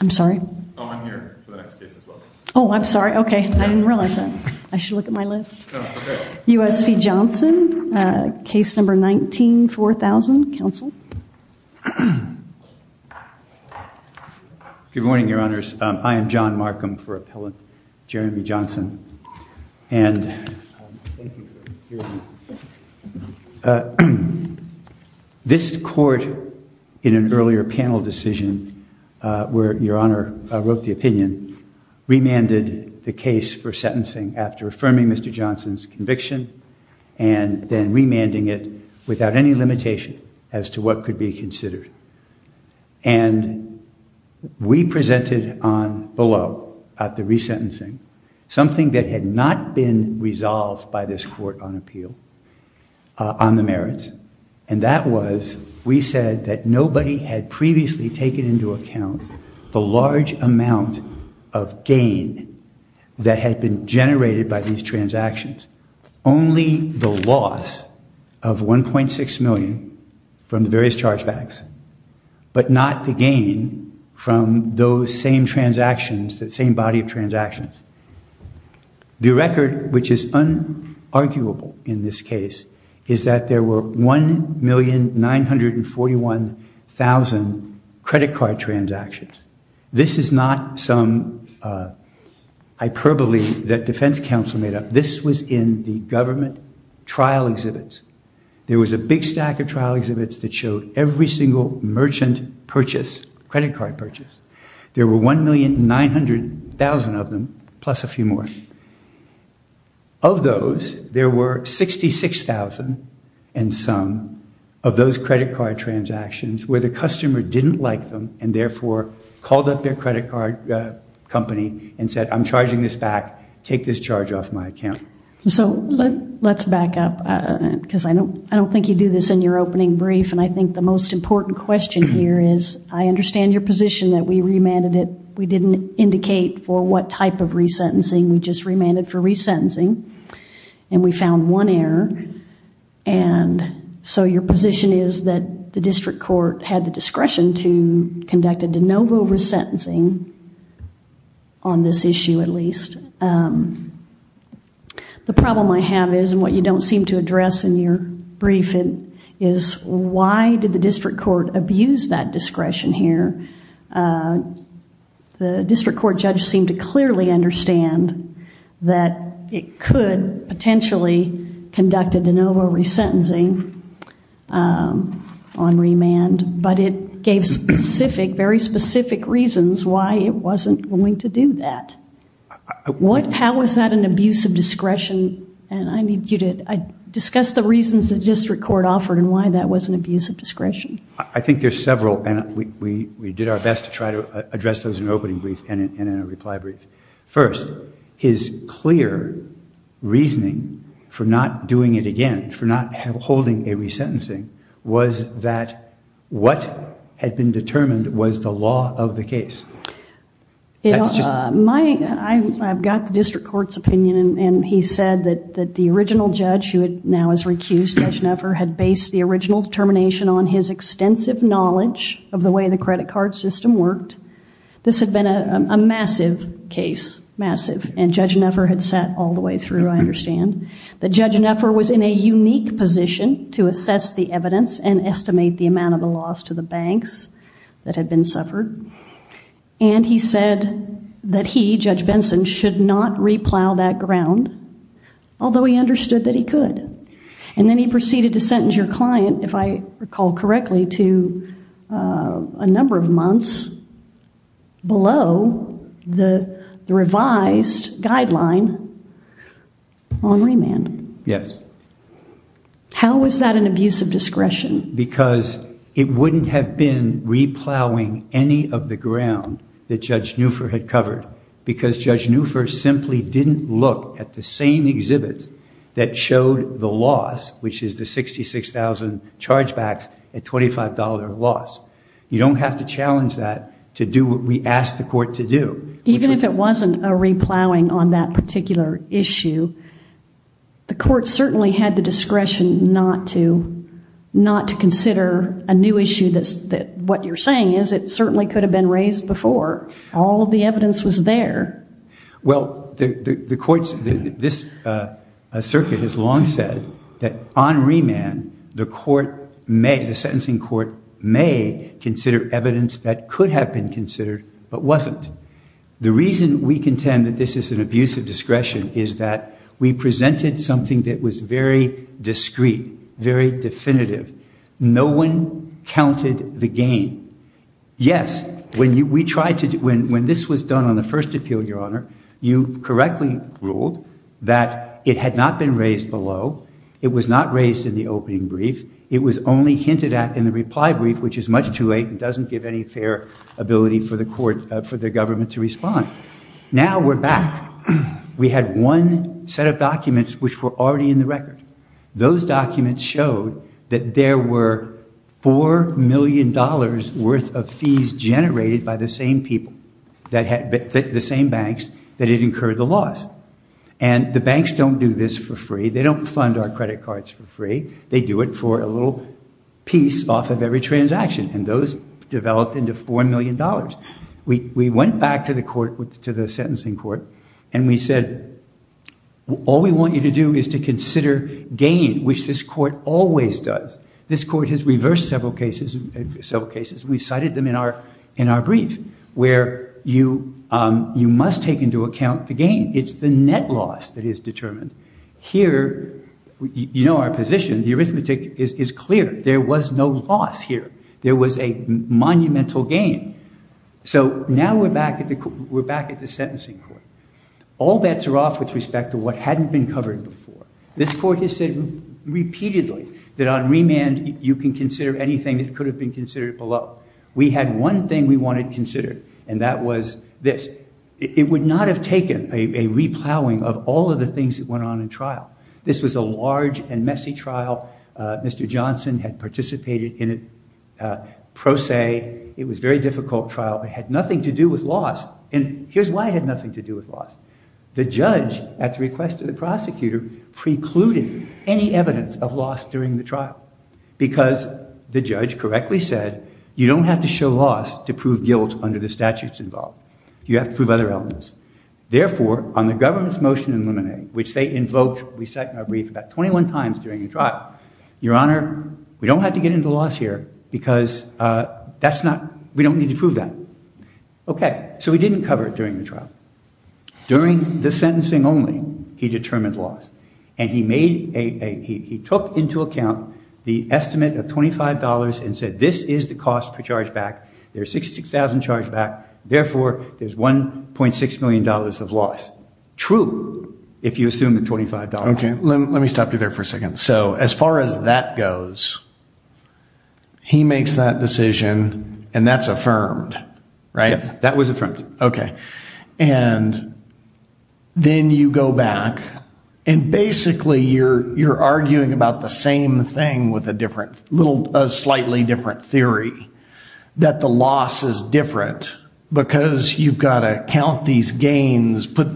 I'm sorry. Oh, I'm sorry. Okay. I didn't realize that. I should look at my list. U.S. v. Johnson, case number 19-4000. Counsel? Good morning, Your Honors. I am This court, in an earlier panel decision where Your Honor wrote the opinion, remanded the case for sentencing after affirming Mr. Johnson's conviction and then remanding it without any limitation as to what could be considered. And we presented on below, at the resentencing, something that had not been resolved by this court on appeal, on the merits. And that was, we said that nobody had previously taken into account the large amount of gain that had been generated by these transactions. Only the loss of $1.6 million from the various chargebacks, but not the gain from those same transactions, that same body of transactions. The record, which is unarguable in this case, is that there were 1,941,000 credit card transactions. This is not some hyperbole that defense counsel made up. This was in the government trial exhibits. There was a big stack of trial exhibits that showed every single merchant purchase, credit card purchase. There were 1,900,000 of them, plus a few more. Of those, there were 66,000 and some of those credit card transactions where the customer didn't like them and therefore called up their credit card company and said, I'm charging this back, take this charge off my account. So let's back up because I don't think you do this in your opening brief. And I think the most important question here is, I understand your position that we remanded it, we didn't indicate for what type of resentencing, we just remanded for resentencing and we found one error. And so your position is that the district court had the discretion to conduct a de novo resentencing on this issue at least. The problem I have is, and what you don't seem to address in your briefing, is why did the district court abuse that discretion here? The district court judge seemed to clearly understand that it could potentially conduct a de novo resentencing on remand, but it gave specific, very specific reasons why it wasn't going to do that. What, how was that an abuse of discretion? And I need you to discuss the reasons the district court offered and why that was an abuse of discretion. I think there's several and we did our best to try to address those in opening brief and in a reply brief. First, his clear reasoning for not doing it again, for not holding a resentencing, was that what had been determined was the law of the case. I've got the district court's opinion and he said that the original judge who now is recused, Judge Neffer, had based the original determination on his extensive knowledge of the way the credit card system worked. This had been a massive case, massive, and Judge Neffer had sat all the way through, I understand, that Judge Neffer was in a unique position to assess the evidence and estimate the amount of the loss to the banks that had been suffered. And he said that he, Judge Benson, should not replow that ground, although he understood that he could. And then he proceeded to sentence your client, if I recall correctly, to a number of months below the revised guideline on remand. Yes. How was that an abuse of discretion? Because it wouldn't have been replowing any of the ground that Judge Neffer had covered because Judge Neffer simply didn't look at the same exhibits that showed the loss, which is the 66,000 chargebacks at $25 loss. You don't have to challenge that to do what we asked the court to do. Even if it wasn't a replowing on that particular issue, the court certainly had the discretion not to consider a new issue that what you're saying is it certainly could have been raised before. All of the evidence was there. Well, the courts, this circuit has long said that on remand, the court may, the sentencing court may consider evidence that could have been considered but wasn't. The reason we contend that this is an abuse of discretion is that we presented something that was very discreet, very definitive. No one counted the gain. Yes, when we tried to, when this was done on the first appeal, Your Honor, you correctly ruled that it had not been raised below. It was not raised in the opening brief. It was only hinted at in the reply brief, which is much too late and doesn't give any fair ability for the court, for the government to respond. Now we're back. We had one set of documents which were already in the record. Those documents showed that there were $4 million worth of fees generated by the same people that had, the same banks that had incurred the loss. And the banks don't do this for free. They don't fund our credit cards for free. They do it for a little piece off of every transaction, and those developed into $4 million. We went back to the court, to the sentencing court, and we said, all we want you to do is to consider gain, which this court always does. This court has reversed several cases, several cases. We cited them in our brief, where you must take into account the gain. It's the net loss that is determined. Here, you know our position. The arithmetic is clear. There was no loss here. There was a monumental gain. So now we're back at the sentencing court. All bets are off with respect to what hadn't been covered before. This court has said repeatedly that on remand you can consider anything that could have been considered below. We had one thing we wanted considered, and that was this. It would not have taken a re-plowing of all of the things that went on in trial. This was a large and messy trial. Mr. Johnson had participated in it pro se. It was a very difficult trial, but it had nothing to do with loss. And here's why it had nothing to do with loss. The judge, at the request of the judge, correctly said, you don't have to show loss to prove guilt under the statutes involved. You have to prove other elements. Therefore, on the government's motion in Luminae, which they invoked, we cite in our brief, about 21 times during the trial, your honor, we don't have to get into loss here because that's not, we don't need to prove that. Okay, so he didn't cover it during the trial. During the sentencing only, he said this is the cost per charge back. There's 66,000 charged back. Therefore, there's $1.6 million of loss. True, if you assume the $25. Okay, let me stop you there for a second. So as far as that goes, he makes that decision, and that's affirmed, right? Yes. That was affirmed. Okay, and then you go back and basically you're arguing about the same thing with a different, a slightly different theory, that the loss is different because you've got to count these gains, put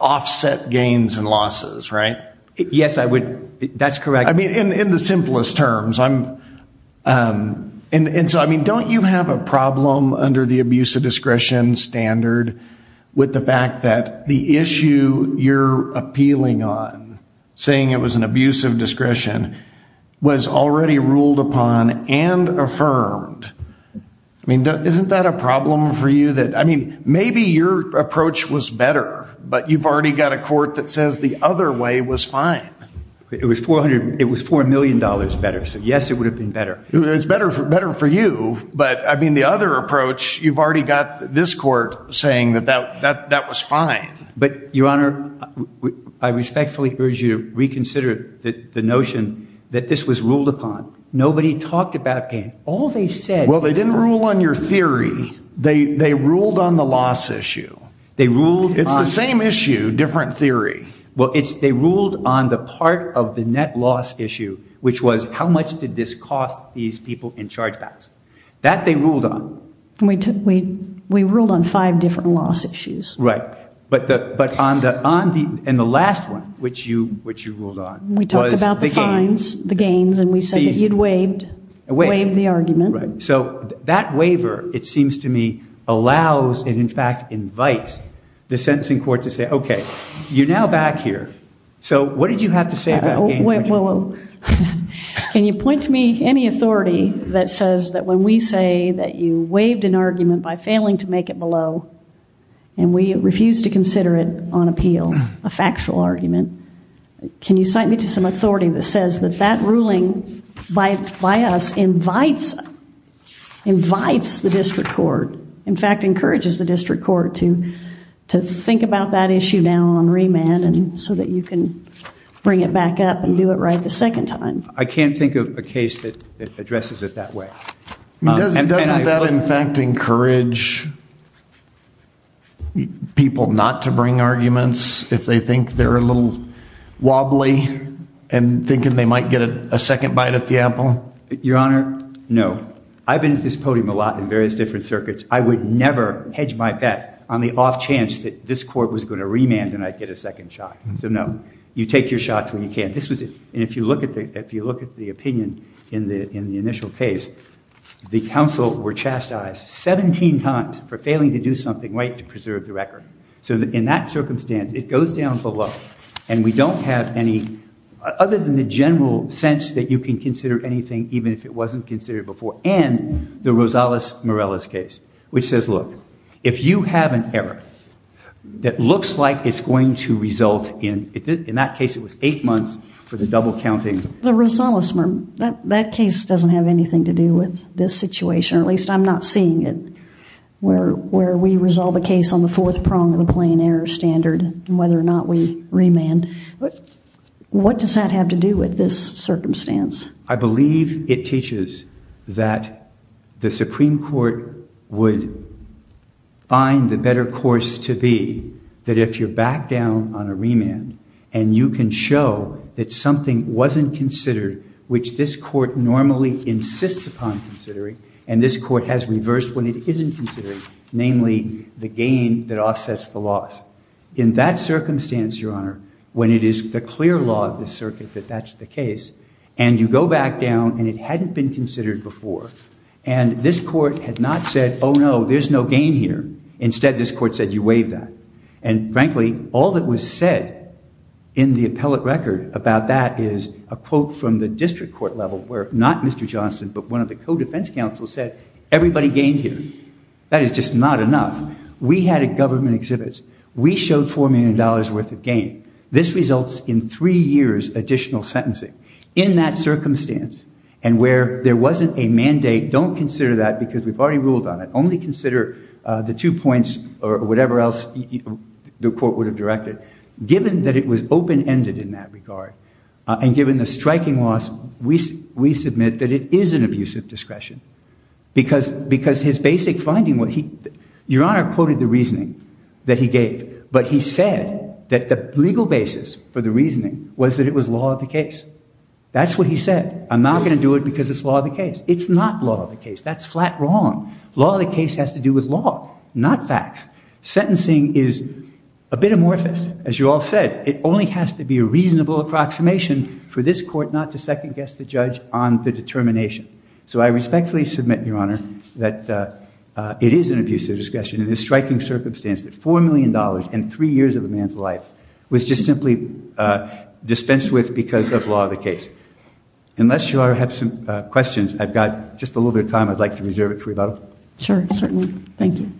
offset gains and losses, right? Yes, I would. That's correct. I mean, in the simplest terms. And so, I mean, don't you have a saying it was an abuse of discretion was already ruled upon and affirmed. I mean, isn't that a problem for you that, I mean, maybe your approach was better, but you've already got a court that says the other way was fine. It was $400, it was $4 million better. So yes, it would have been better. It's better for better for you. But I mean, the other approach, you've already got this court saying that that was fine. But Your Honor, I respectfully urge you to reconsider the notion that this was ruled upon. Nobody talked about gain. All they said. Well, they didn't rule on your theory. They ruled on the loss issue. They ruled. It's the same issue, different theory. Well, it's they ruled on the part of the net loss issue, which was how much did this cost these people in different loss issues. Right. But on the last one, which you ruled on. We talked about the gains and we said that you'd waived the argument. So that waiver, it seems to me, allows and in fact invites the sentencing court to say, okay, you're now back here. So what did you have to say about gain? Can you point to me any authority that says that when we say that you waived an argument by and we refuse to consider it on appeal, a factual argument, can you cite me to some authority that says that that ruling by us invites invites the district court, in fact, encourages the district court to to think about that issue now on remand and so that you can bring it back up and do it right the second time. I can't think of a case that addresses it that way. Doesn't that in fact encourage people not to bring arguments if they think they're a little wobbly and thinking they might get a second bite at the apple? Your Honor, no. I've been at this podium a lot in various different circuits. I would never hedge my bet on the off chance that this court was going to remand and I'd get a second shot. So no, you take your shots when you can. This was it. And if you look at the opinion in the in the initial case, the counsel were chastised 17 times for failing to do something right to preserve the record. So in that circumstance it goes down below and we don't have any other than the general sense that you can consider anything even if it wasn't considered before and the Rosales-Morales case which says look, if you have an error that looks like it's going to result in, in that case it was eight months for the double counting. The Rosales-Morales case doesn't have anything to do with this situation, at least I'm not seeing it, where we resolve a case on the fourth prong of the plain error standard and whether or not we remand. What does that have to do with this circumstance? I believe it teaches that the Supreme Court would find the course to be that if you're back down on a remand and you can show that something wasn't considered which this court normally insists upon considering and this court has reversed when it isn't considering, namely the gain that offsets the loss. In that circumstance, your honor, when it is the clear law of the circuit that that's the case and you go back down and it hadn't been considered before and this court had not said, oh no, there's no gain here. Instead this court said you waive that and frankly all that was said in the appellate record about that is a quote from the district court level where not Mr. Johnson but one of the co-defense counsels said everybody gained here. That is just not enough. We had a government exhibits. We showed four million dollars worth of gain. This results in three years additional sentencing. In that circumstance and where there wasn't a mandate, don't consider that because we've already ruled on it. Only consider the two points or whatever else the court would have directed. Given that it was open-ended in that regard and given the striking loss, we submit that it is an abuse of discretion because his basic finding, your honor quoted the reasoning that he gave but he said that the legal basis for the reasoning was that it was law of the case. That's what he said. I'm not going to do it because it's law of the case. It's not law of the case. That's flat wrong. Law of the case has to do with law, not facts. Sentencing is a bit amorphous. As you all said, it only has to be a reasonable approximation for this court not to second-guess the judge on the determination. So I respectfully submit, your honor, that it is an abuse of discretion in this striking circumstance that four million dollars and three years of a man's life was just simply dispensed with because of law of the case. Unless you all have some questions, I've got just a little bit of time. I'd like to reserve it for you both. Sure, certainly. Thank you.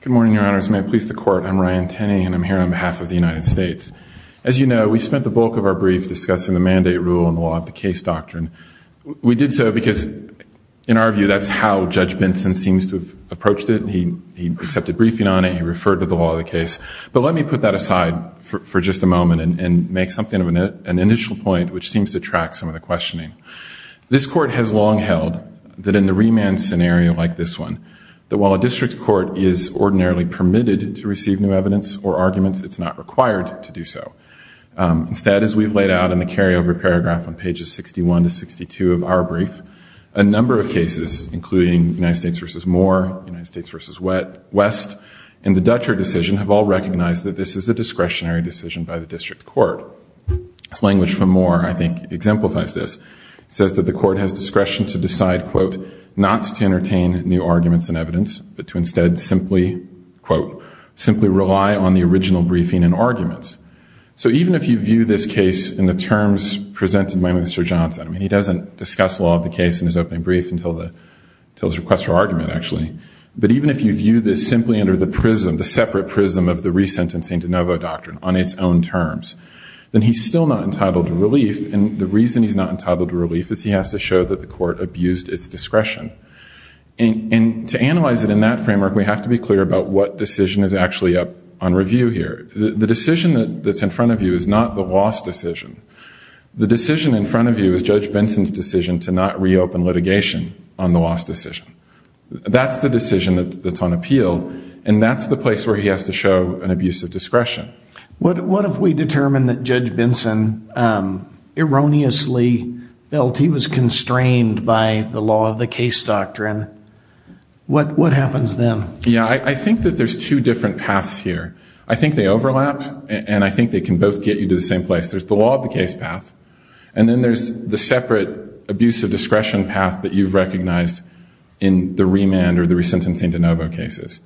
Good morning, your honors. May it please the court. I'm Ryan Tenney and I'm here on behalf of the United States. As you know, we spent the bulk of our brief discussing the mandate rule and the law of the case. Judge Benson seems to have approached it. He accepted briefing on it. He referred to the law of the case. But let me put that aside for just a moment and make something of an initial point which seems to track some of the questioning. This court has long held that in the remand scenario like this one, that while a district court is ordinarily permitted to receive new evidence or arguments, it's not required to do so. Instead, as we've laid out in the carryover paragraph on pages 61 to 62 of our brief, a number of cases, including United States v. Moore, United States v. West, and the Dutcher decision have all recognized that this is a discretionary decision by the district court. This language from Moore, I think, exemplifies this. It says that the court has discretion to decide, quote, not to entertain new arguments and evidence, but to instead simply, quote, simply rely on the original briefing and arguments. So even if you view this case in the terms presented by Mr. Johnson, I mean, he doesn't discuss the law of the case in his opening brief until his request for argument, actually. But even if you view this simply under the prism, the separate prism of the resentencing de novo doctrine on its own terms, then he's still not entitled to relief. And the reason he's not entitled to relief is he has to show that the court abused its discretion. And to analyze it in that framework, we have to be clear about what decision is actually up on review here. The decision that's in front of you is not the loss decision. The decision in front of you is Judge Benson's decision to not reopen litigation on the loss decision. That's the decision that's on appeal, and that's the place where he has to show an abuse of discretion. What if we determine that Judge Benson erroneously felt he was constrained by the law of the case doctrine? What happens then? Yeah, I think that there's two different paths here. I think they overlap, and I think they can both get you to the same place. There's the law of the case path, and then there's the separate abuse of discretion path that you've recognized in the remand or the resentencing de novo cases.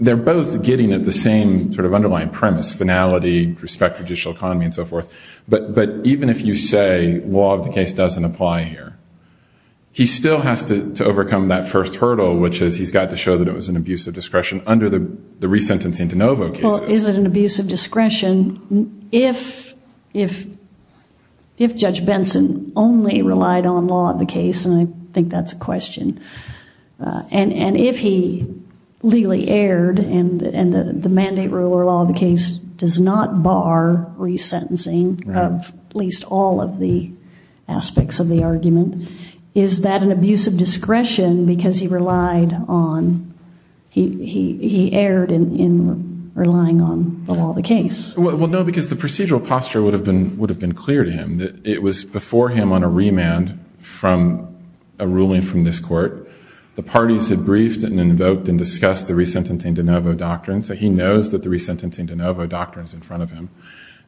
They're both getting at the same sort of underlying premise, finality, respect judicial economy, and so forth. But even if you say law of the case doesn't apply here, he still has to overcome that first hurdle, which is he's got to show that it was an abuse of discretion under the resentencing de novo cases. Well, is it abuse of discretion if Judge Benson only relied on law of the case? And I think that's a question. And if he legally erred and the mandate rule or law of the case does not bar resentencing of at least all of the aspects of the argument, is that an abuse of discretion because he relied on, he erred in relying on the law of the case? Well, no, because the procedural posture would have been clear to him. It was before him on a remand from a ruling from this court. The parties had briefed and invoked and discussed the resentencing de novo doctrine, so he knows that the resentencing de novo doctrine is in front of him.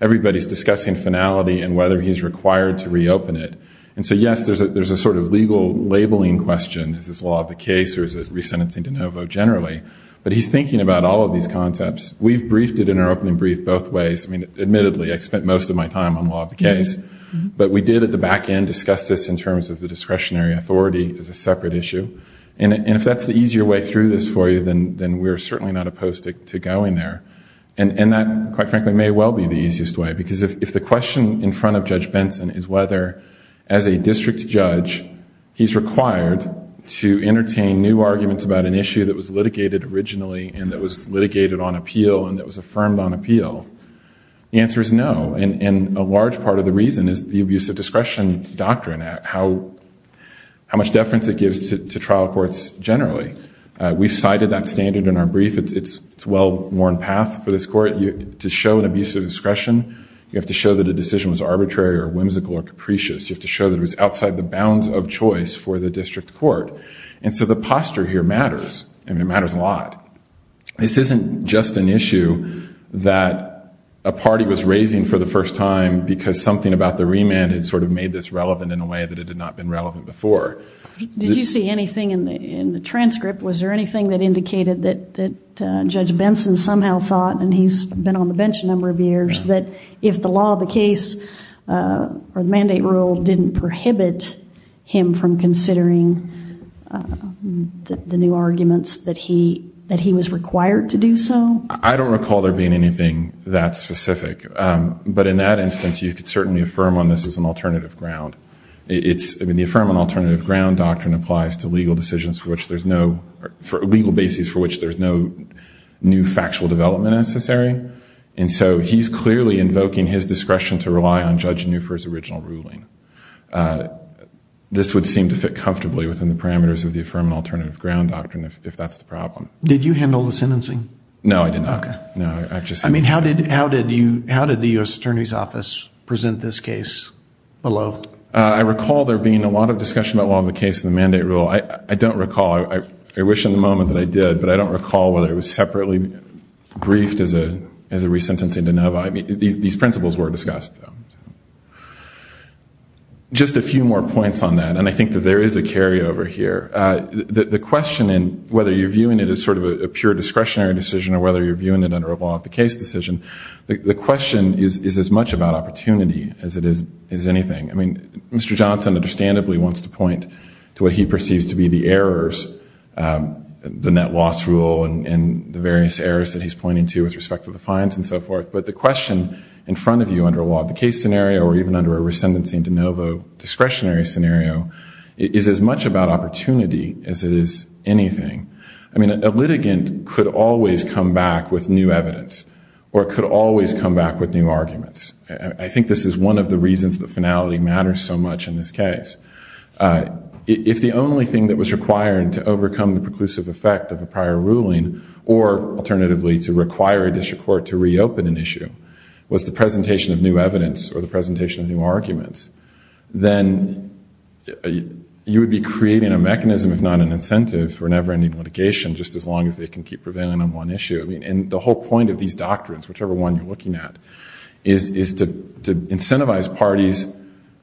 Everybody's discussing finality and whether he's required to reopen it. And so yes, there's a sort of legal labeling question. Is this law of the case or is it resentencing de novo generally? But he's thinking about all of these concepts. We've briefed it in our opening brief both ways. I mean, admittedly, I spent most of my time on law of the case, but we did at the back end discuss this in terms of the discretionary authority as a separate issue. And if that's the easier way through this for you, then we're certainly not opposed to going there. And that, quite frankly, may well be the easiest way because if the question in front of Judge Benson is whether, as a district judge, he's required to entertain new arguments about an issue that was litigated originally and that was litigated on appeal and that was affirmed on appeal, the answer is no. And a large part of the reason is the abuse of discretion doctrine, how much deference it gives to trial courts generally. We've cited that standard in our brief. It's a well-worn path for this court. To show an abuse of discretion, you have to show that a decision was arbitrary or whimsical or And so the posture here matters. I mean, it matters a lot. This isn't just an issue that a party was raising for the first time because something about the remand had sort of made this relevant in a way that it had not been relevant before. Did you see anything in the transcript? Was there anything that indicated that Judge Benson somehow thought, and he's been on the bench a number of years, that if the law of the case or the mandate rule didn't prohibit him from considering the new arguments, that he was required to do so? I don't recall there being anything that specific. But in that instance, you could certainly affirm on this as an alternative ground. I mean, the affirm on alternative ground doctrine applies to legal decisions for which there's no, legal basis for which there's no new factual development necessary. And so he's clearly invoking his discretion to rely on Judge Benson. This would seem to fit comfortably within the parameters of the affirmative alternative ground doctrine, if that's the problem. Did you handle the sentencing? No, I did not. I mean, how did the U.S. Attorney's Office present this case below? I recall there being a lot of discussion about the law of the case and the mandate rule. I don't recall. I wish in the moment that I did, but I don't recall whether it was separately briefed as a resentencing de novo. I mean, these principles were discussed. Just a few more points on that. And I think that there is a carryover here. The question in whether you're viewing it as sort of a pure discretionary decision, or whether you're viewing it under a law of the case decision, the question is as much about opportunity as it is anything. I mean, Mr. Johnson, understandably, wants to point to what he perceives to be the errors, the net loss rule and the various errors that he's pointing to with respect to the fines and so forth. But the question in front of you under a law of the case scenario, or even under a resentencing de novo discretionary scenario, is as much about opportunity as it is anything. I mean, a litigant could always come back with new evidence, or could always come back with new arguments. I think this is one of the reasons that finality matters so much in this case. If the only thing that was required to overcome the preclusive effect of a prior ruling, or alternatively to require a district court to reopen an issue, was the presentation of new evidence or the presentation of new arguments, then you would be creating a mechanism, if not an incentive, for never-ending litigation just as long as they can keep prevailing on one issue. And the whole point of these doctrines, whichever one you're looking at, is to incentivize parties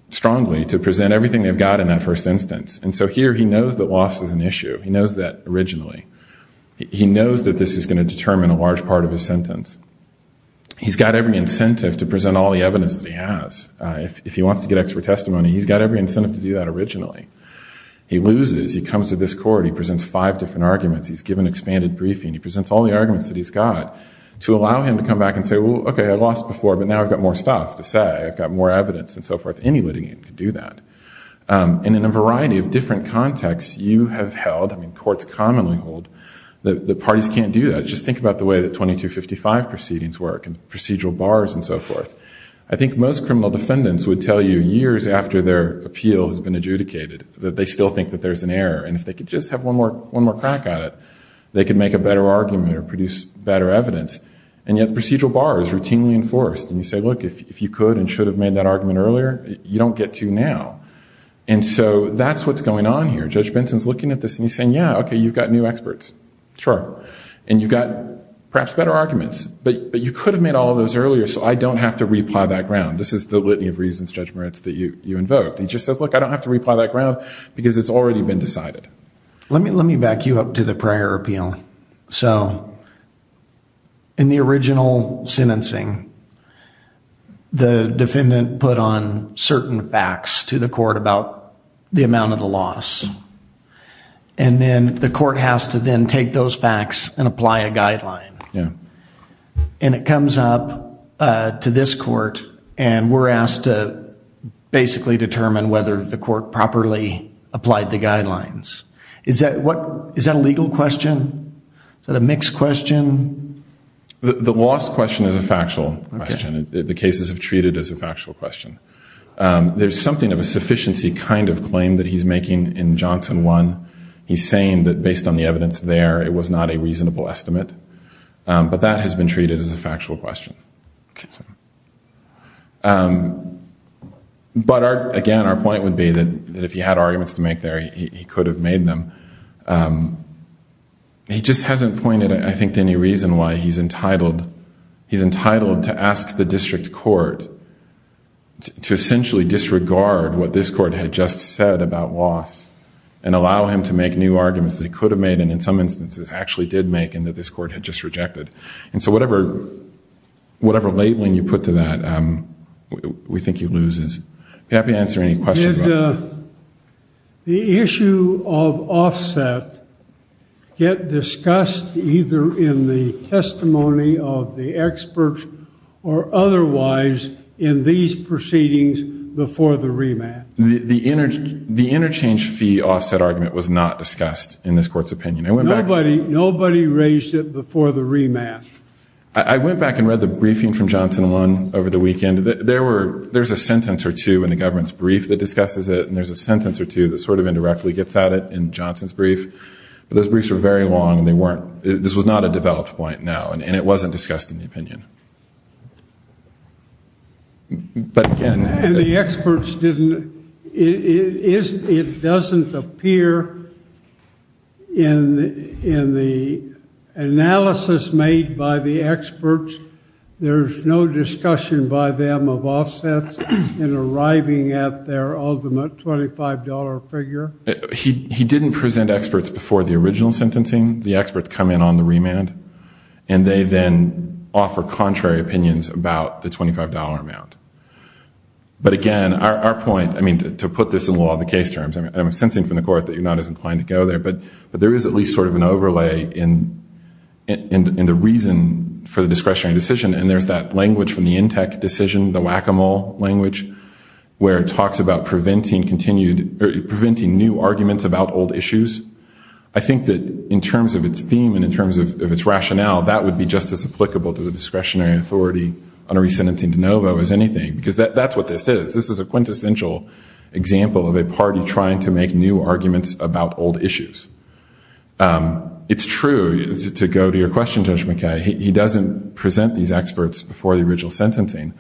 strongly to present everything they've got in that first instance. And so here he knows that originally. He knows that this is going to determine a large part of his sentence. He's got every incentive to present all the evidence that he has. If he wants to get expert testimony, he's got every incentive to do that originally. He loses. He comes to this court. He presents five different arguments. He's given expanded briefing. He presents all the arguments that he's got to allow him to come back and say, well, OK, I lost before, but now I've got more stuff to say. I've got more evidence and so forth. Any litigant can do that. And in a variety of contexts, you have held, I mean courts commonly hold, that parties can't do that. Just think about the way that 2255 proceedings work and procedural bars and so forth. I think most criminal defendants would tell you years after their appeal has been adjudicated that they still think that there's an error. And if they could just have one more crack at it, they could make a better argument or produce better evidence. And yet the procedural bar is routinely enforced. And you say, look, if you could and should have made that argument earlier, you don't get to now. And so that's what's going on here. Judge Benson's looking at this and he's saying, yeah, OK, you've got new experts. Sure. And you've got perhaps better arguments. But you could have made all of those earlier so I don't have to reply that ground. This is the litany of reasons, Judge Moritz, that you invoked. He just says, look, I don't have to reply that ground because it's already been decided. Let me back you up to the prior appeal. So in the original sentencing, the defendant put on certain facts to the court about the amount of the loss. And then the court has to then take those facts and apply a guideline. And it comes up to this court and we're asked to basically determine whether the court properly applied the guidelines. Is that a legal question? Is that a mixed question? The loss question is a factual question. The cases have treated as a factual question. There's something of a sufficiency kind of claim that he's making in Johnson 1. He's saying that based on the evidence there, it was not a reasonable estimate. But that has been treated as a factual question. But again, our point would be that if he had arguments to make there, he could have made them. He just hasn't pointed, I think, to any reason why he's entitled to ask the district court to essentially disregard what this court had just said about loss and allow him to make new arguments that he could have made and in some instances actually did make and that this whatever labeling you put to that, we think he loses. Happy to answer any questions. The issue of offset get discussed either in the testimony of the experts or otherwise in these proceedings before the remand. The interchange fee offset argument was not discussed in this court's opinion. Nobody raised it before the remand. I went back and read the briefing from Johnson 1 over the weekend. There's a sentence or two in the government's brief that discusses it. And there's a sentence or two that sort of indirectly gets at it in Johnson's brief. But those briefs are very long and they weren't, this was not a developed point now and it wasn't discussed in the opinion. And the experts didn't, it doesn't appear in the analysis made by the experts, there's no discussion by them of offsets in arriving at their ultimate $25 figure? He didn't present experts before the original sentencing. The experts come in on the remand and they then offer contrary opinions about the $25 amount. But again, our point, I mean, to put this in law, the case terms, I'm sensing from the court that you're not as inclined to go there, but there is at least sort of an overlay in the reason for the discretionary decision. And there's that language from the Intec decision, the whack-a-mole language, where it talks about preventing continued, preventing new arguments about old issues. I think that in terms of its rationale, that would be just as applicable to the discretionary authority on a re-sentencing de novo as anything, because that's what this is. This is a quintessential example of a party trying to make new arguments about old issues. It's true, to go to your question, Judge McKay, he doesn't present these experts before the original sentencing,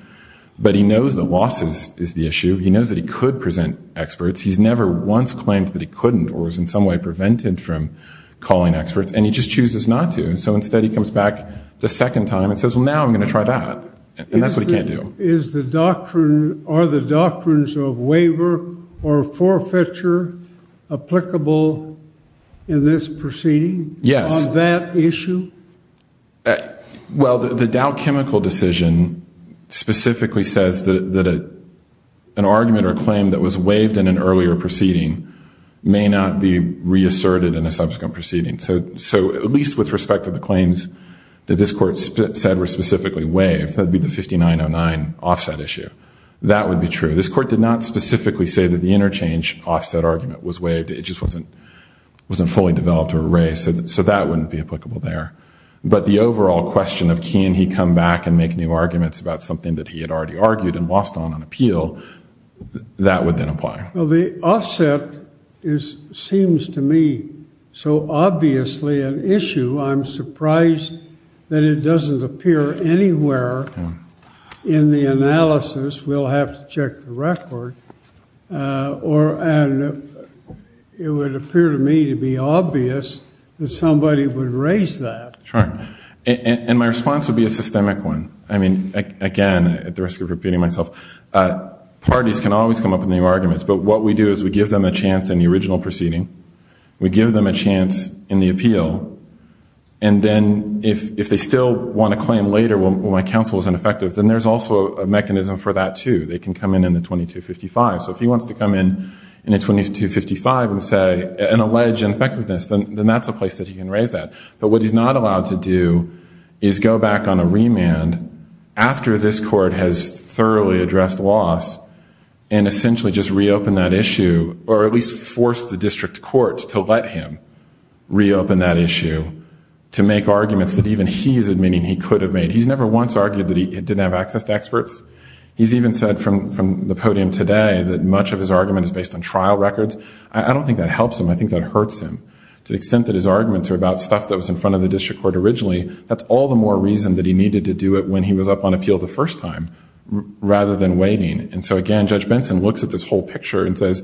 but he knows the losses is the issue. He knows that he could present experts. He's never once claimed that he couldn't or was in some way prevented from calling experts, and he just chooses not to. So instead, he comes back the second time and says, well, now I'm going to try that. And that's what he can't do. Is the doctrine, are the doctrines of waiver or forfeiture applicable in this proceeding? Yes. On that issue? Well, the Dow Chemical decision specifically says that an argument or claim that was waived in an earlier proceeding may not be reasserted in a subsequent proceeding. So at least with respect to the claims that this court said were specifically waived, that would be the 5909 offset issue. That would be true. This court did not specifically say that the interchange offset argument was waived. It just wasn't fully developed or raised, so that wouldn't be applicable there. But the overall question of can he come back and make new arguments about something that he had already argued and lost on an appeal, that would then apply. Well, the offset seems to me so obviously an issue. I'm surprised that it doesn't appear anywhere in the analysis. We'll have to check the record. And it would appear to me to be obvious that somebody would raise that. Sure. And my response would be a systemic one. I mean, again, at the risk of repeating myself, parties can always come up with new arguments. But what we do is we give them a chance in the original proceeding. We give them a chance in the appeal. And then if they still want to claim later, well, my counsel is ineffective, then there's also a mechanism for that too. They can come in in the 2255. So if he wants to come in in a 2255 and say, and allege ineffectiveness, then that's a place that he can raise that. But what he's not allowed to do is go back on a remand after this court has thoroughly addressed loss and essentially just reopen that issue, or at least force the district court to let him reopen that issue to make arguments that even he is admitting he could have made. He's never once argued that he didn't have access to experts. He's even said from the podium today that much of his argument is based on trial to the extent that his arguments are about stuff that was in front of the district court originally. That's all the more reason that he needed to do it when he was up on appeal the first time rather than waiting. And so again, Judge Benson looks at this whole picture and says,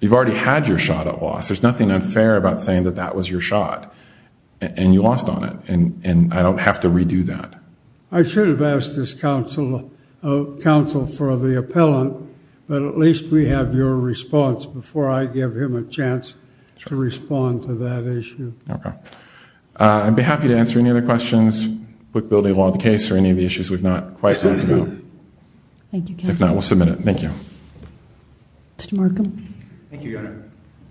you've already had your shot at loss. There's nothing unfair about saying that that was your shot and you lost on it. And I don't have to redo that. I should have asked this counsel counsel for the appellant, but at least we have your response before I give him a chance to respond to that issue. Okay. I'd be happy to answer any other questions with building along the case or any of the issues we've not quite talked about. Thank you. If not, we'll submit it. Thank you. Mr. Markham. Thank you.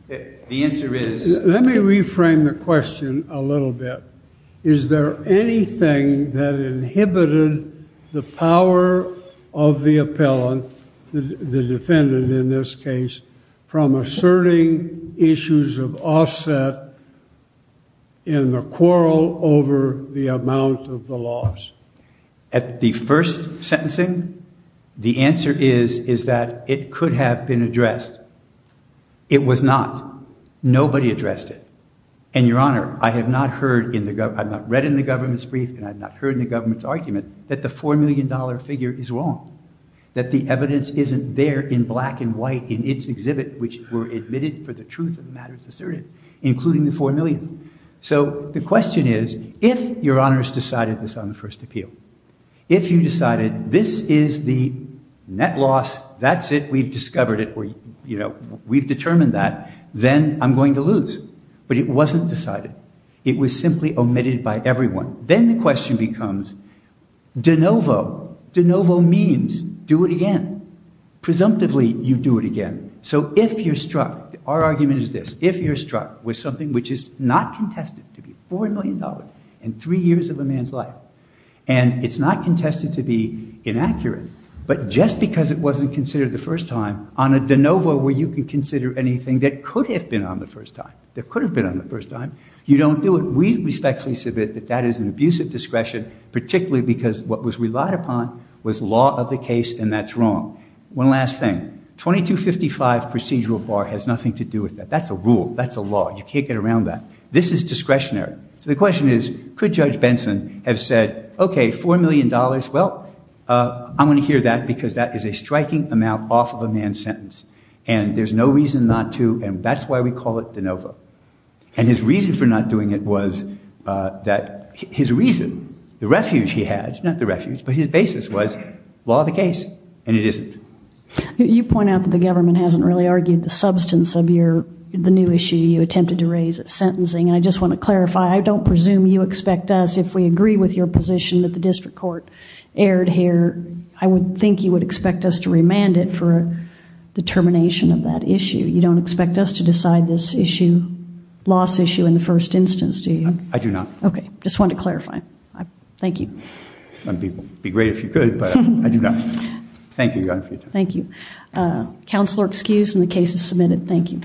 The answer is, let me reframe the question a little bit. Is there anything that inhibited the power of the appellant, the defendant in this case, from asserting issues of offset in the quarrel over the amount of the loss? At the first sentencing, the answer is, is that it could have been addressed. It was not. Nobody addressed it. And Your Honor, I have not read in the government's brief and I've not heard in the government's argument that the $4 million figure is wrong, that the evidence isn't there in black and white in its exhibit, which were admitted for the truth of matters asserted, including the $4 million. So the question is, if Your Honor's decided this on the we've determined that, then I'm going to lose. But it wasn't decided. It was simply omitted by everyone. Then the question becomes de novo. De novo means do it again. Presumptively, you do it again. So if you're struck, our argument is this, if you're struck with something which is not contested to be $4 million in three years of a man's life, and it's not contested to be anything that could have been on the first time, you don't do it. We respectfully submit that that is an abuse of discretion, particularly because what was relied upon was law of the case and that's wrong. One last thing. 2255 procedural bar has nothing to do with that. That's a rule. That's a law. You can't get around that. This is discretionary. So the question is, could Judge Benson have said, okay, $4 million, well, I'm going to hear that because that is a striking amount off of a man's sentence, and there's no reason not to, and that's why we call it de novo. And his reason for not doing it was that his reason, the refuge he had, not the refuge, but his basis was law of the case, and it isn't. You point out that the government hasn't really argued the substance of the new issue you attempted to raise at sentencing, and I just want to clarify, I don't presume you expect us, if we agree with your position that the district court erred here, I would think you would expect us to remand it for a determination of that issue. You don't expect us to decide this issue, loss issue, in the first instance, do you? I do not. Okay. Just wanted to clarify. Thank you. I'd be great if you could, but I do not. Thank you, Your Honor, for your time. Thank you. Counselor, excused, and the case is submitted. Thank you.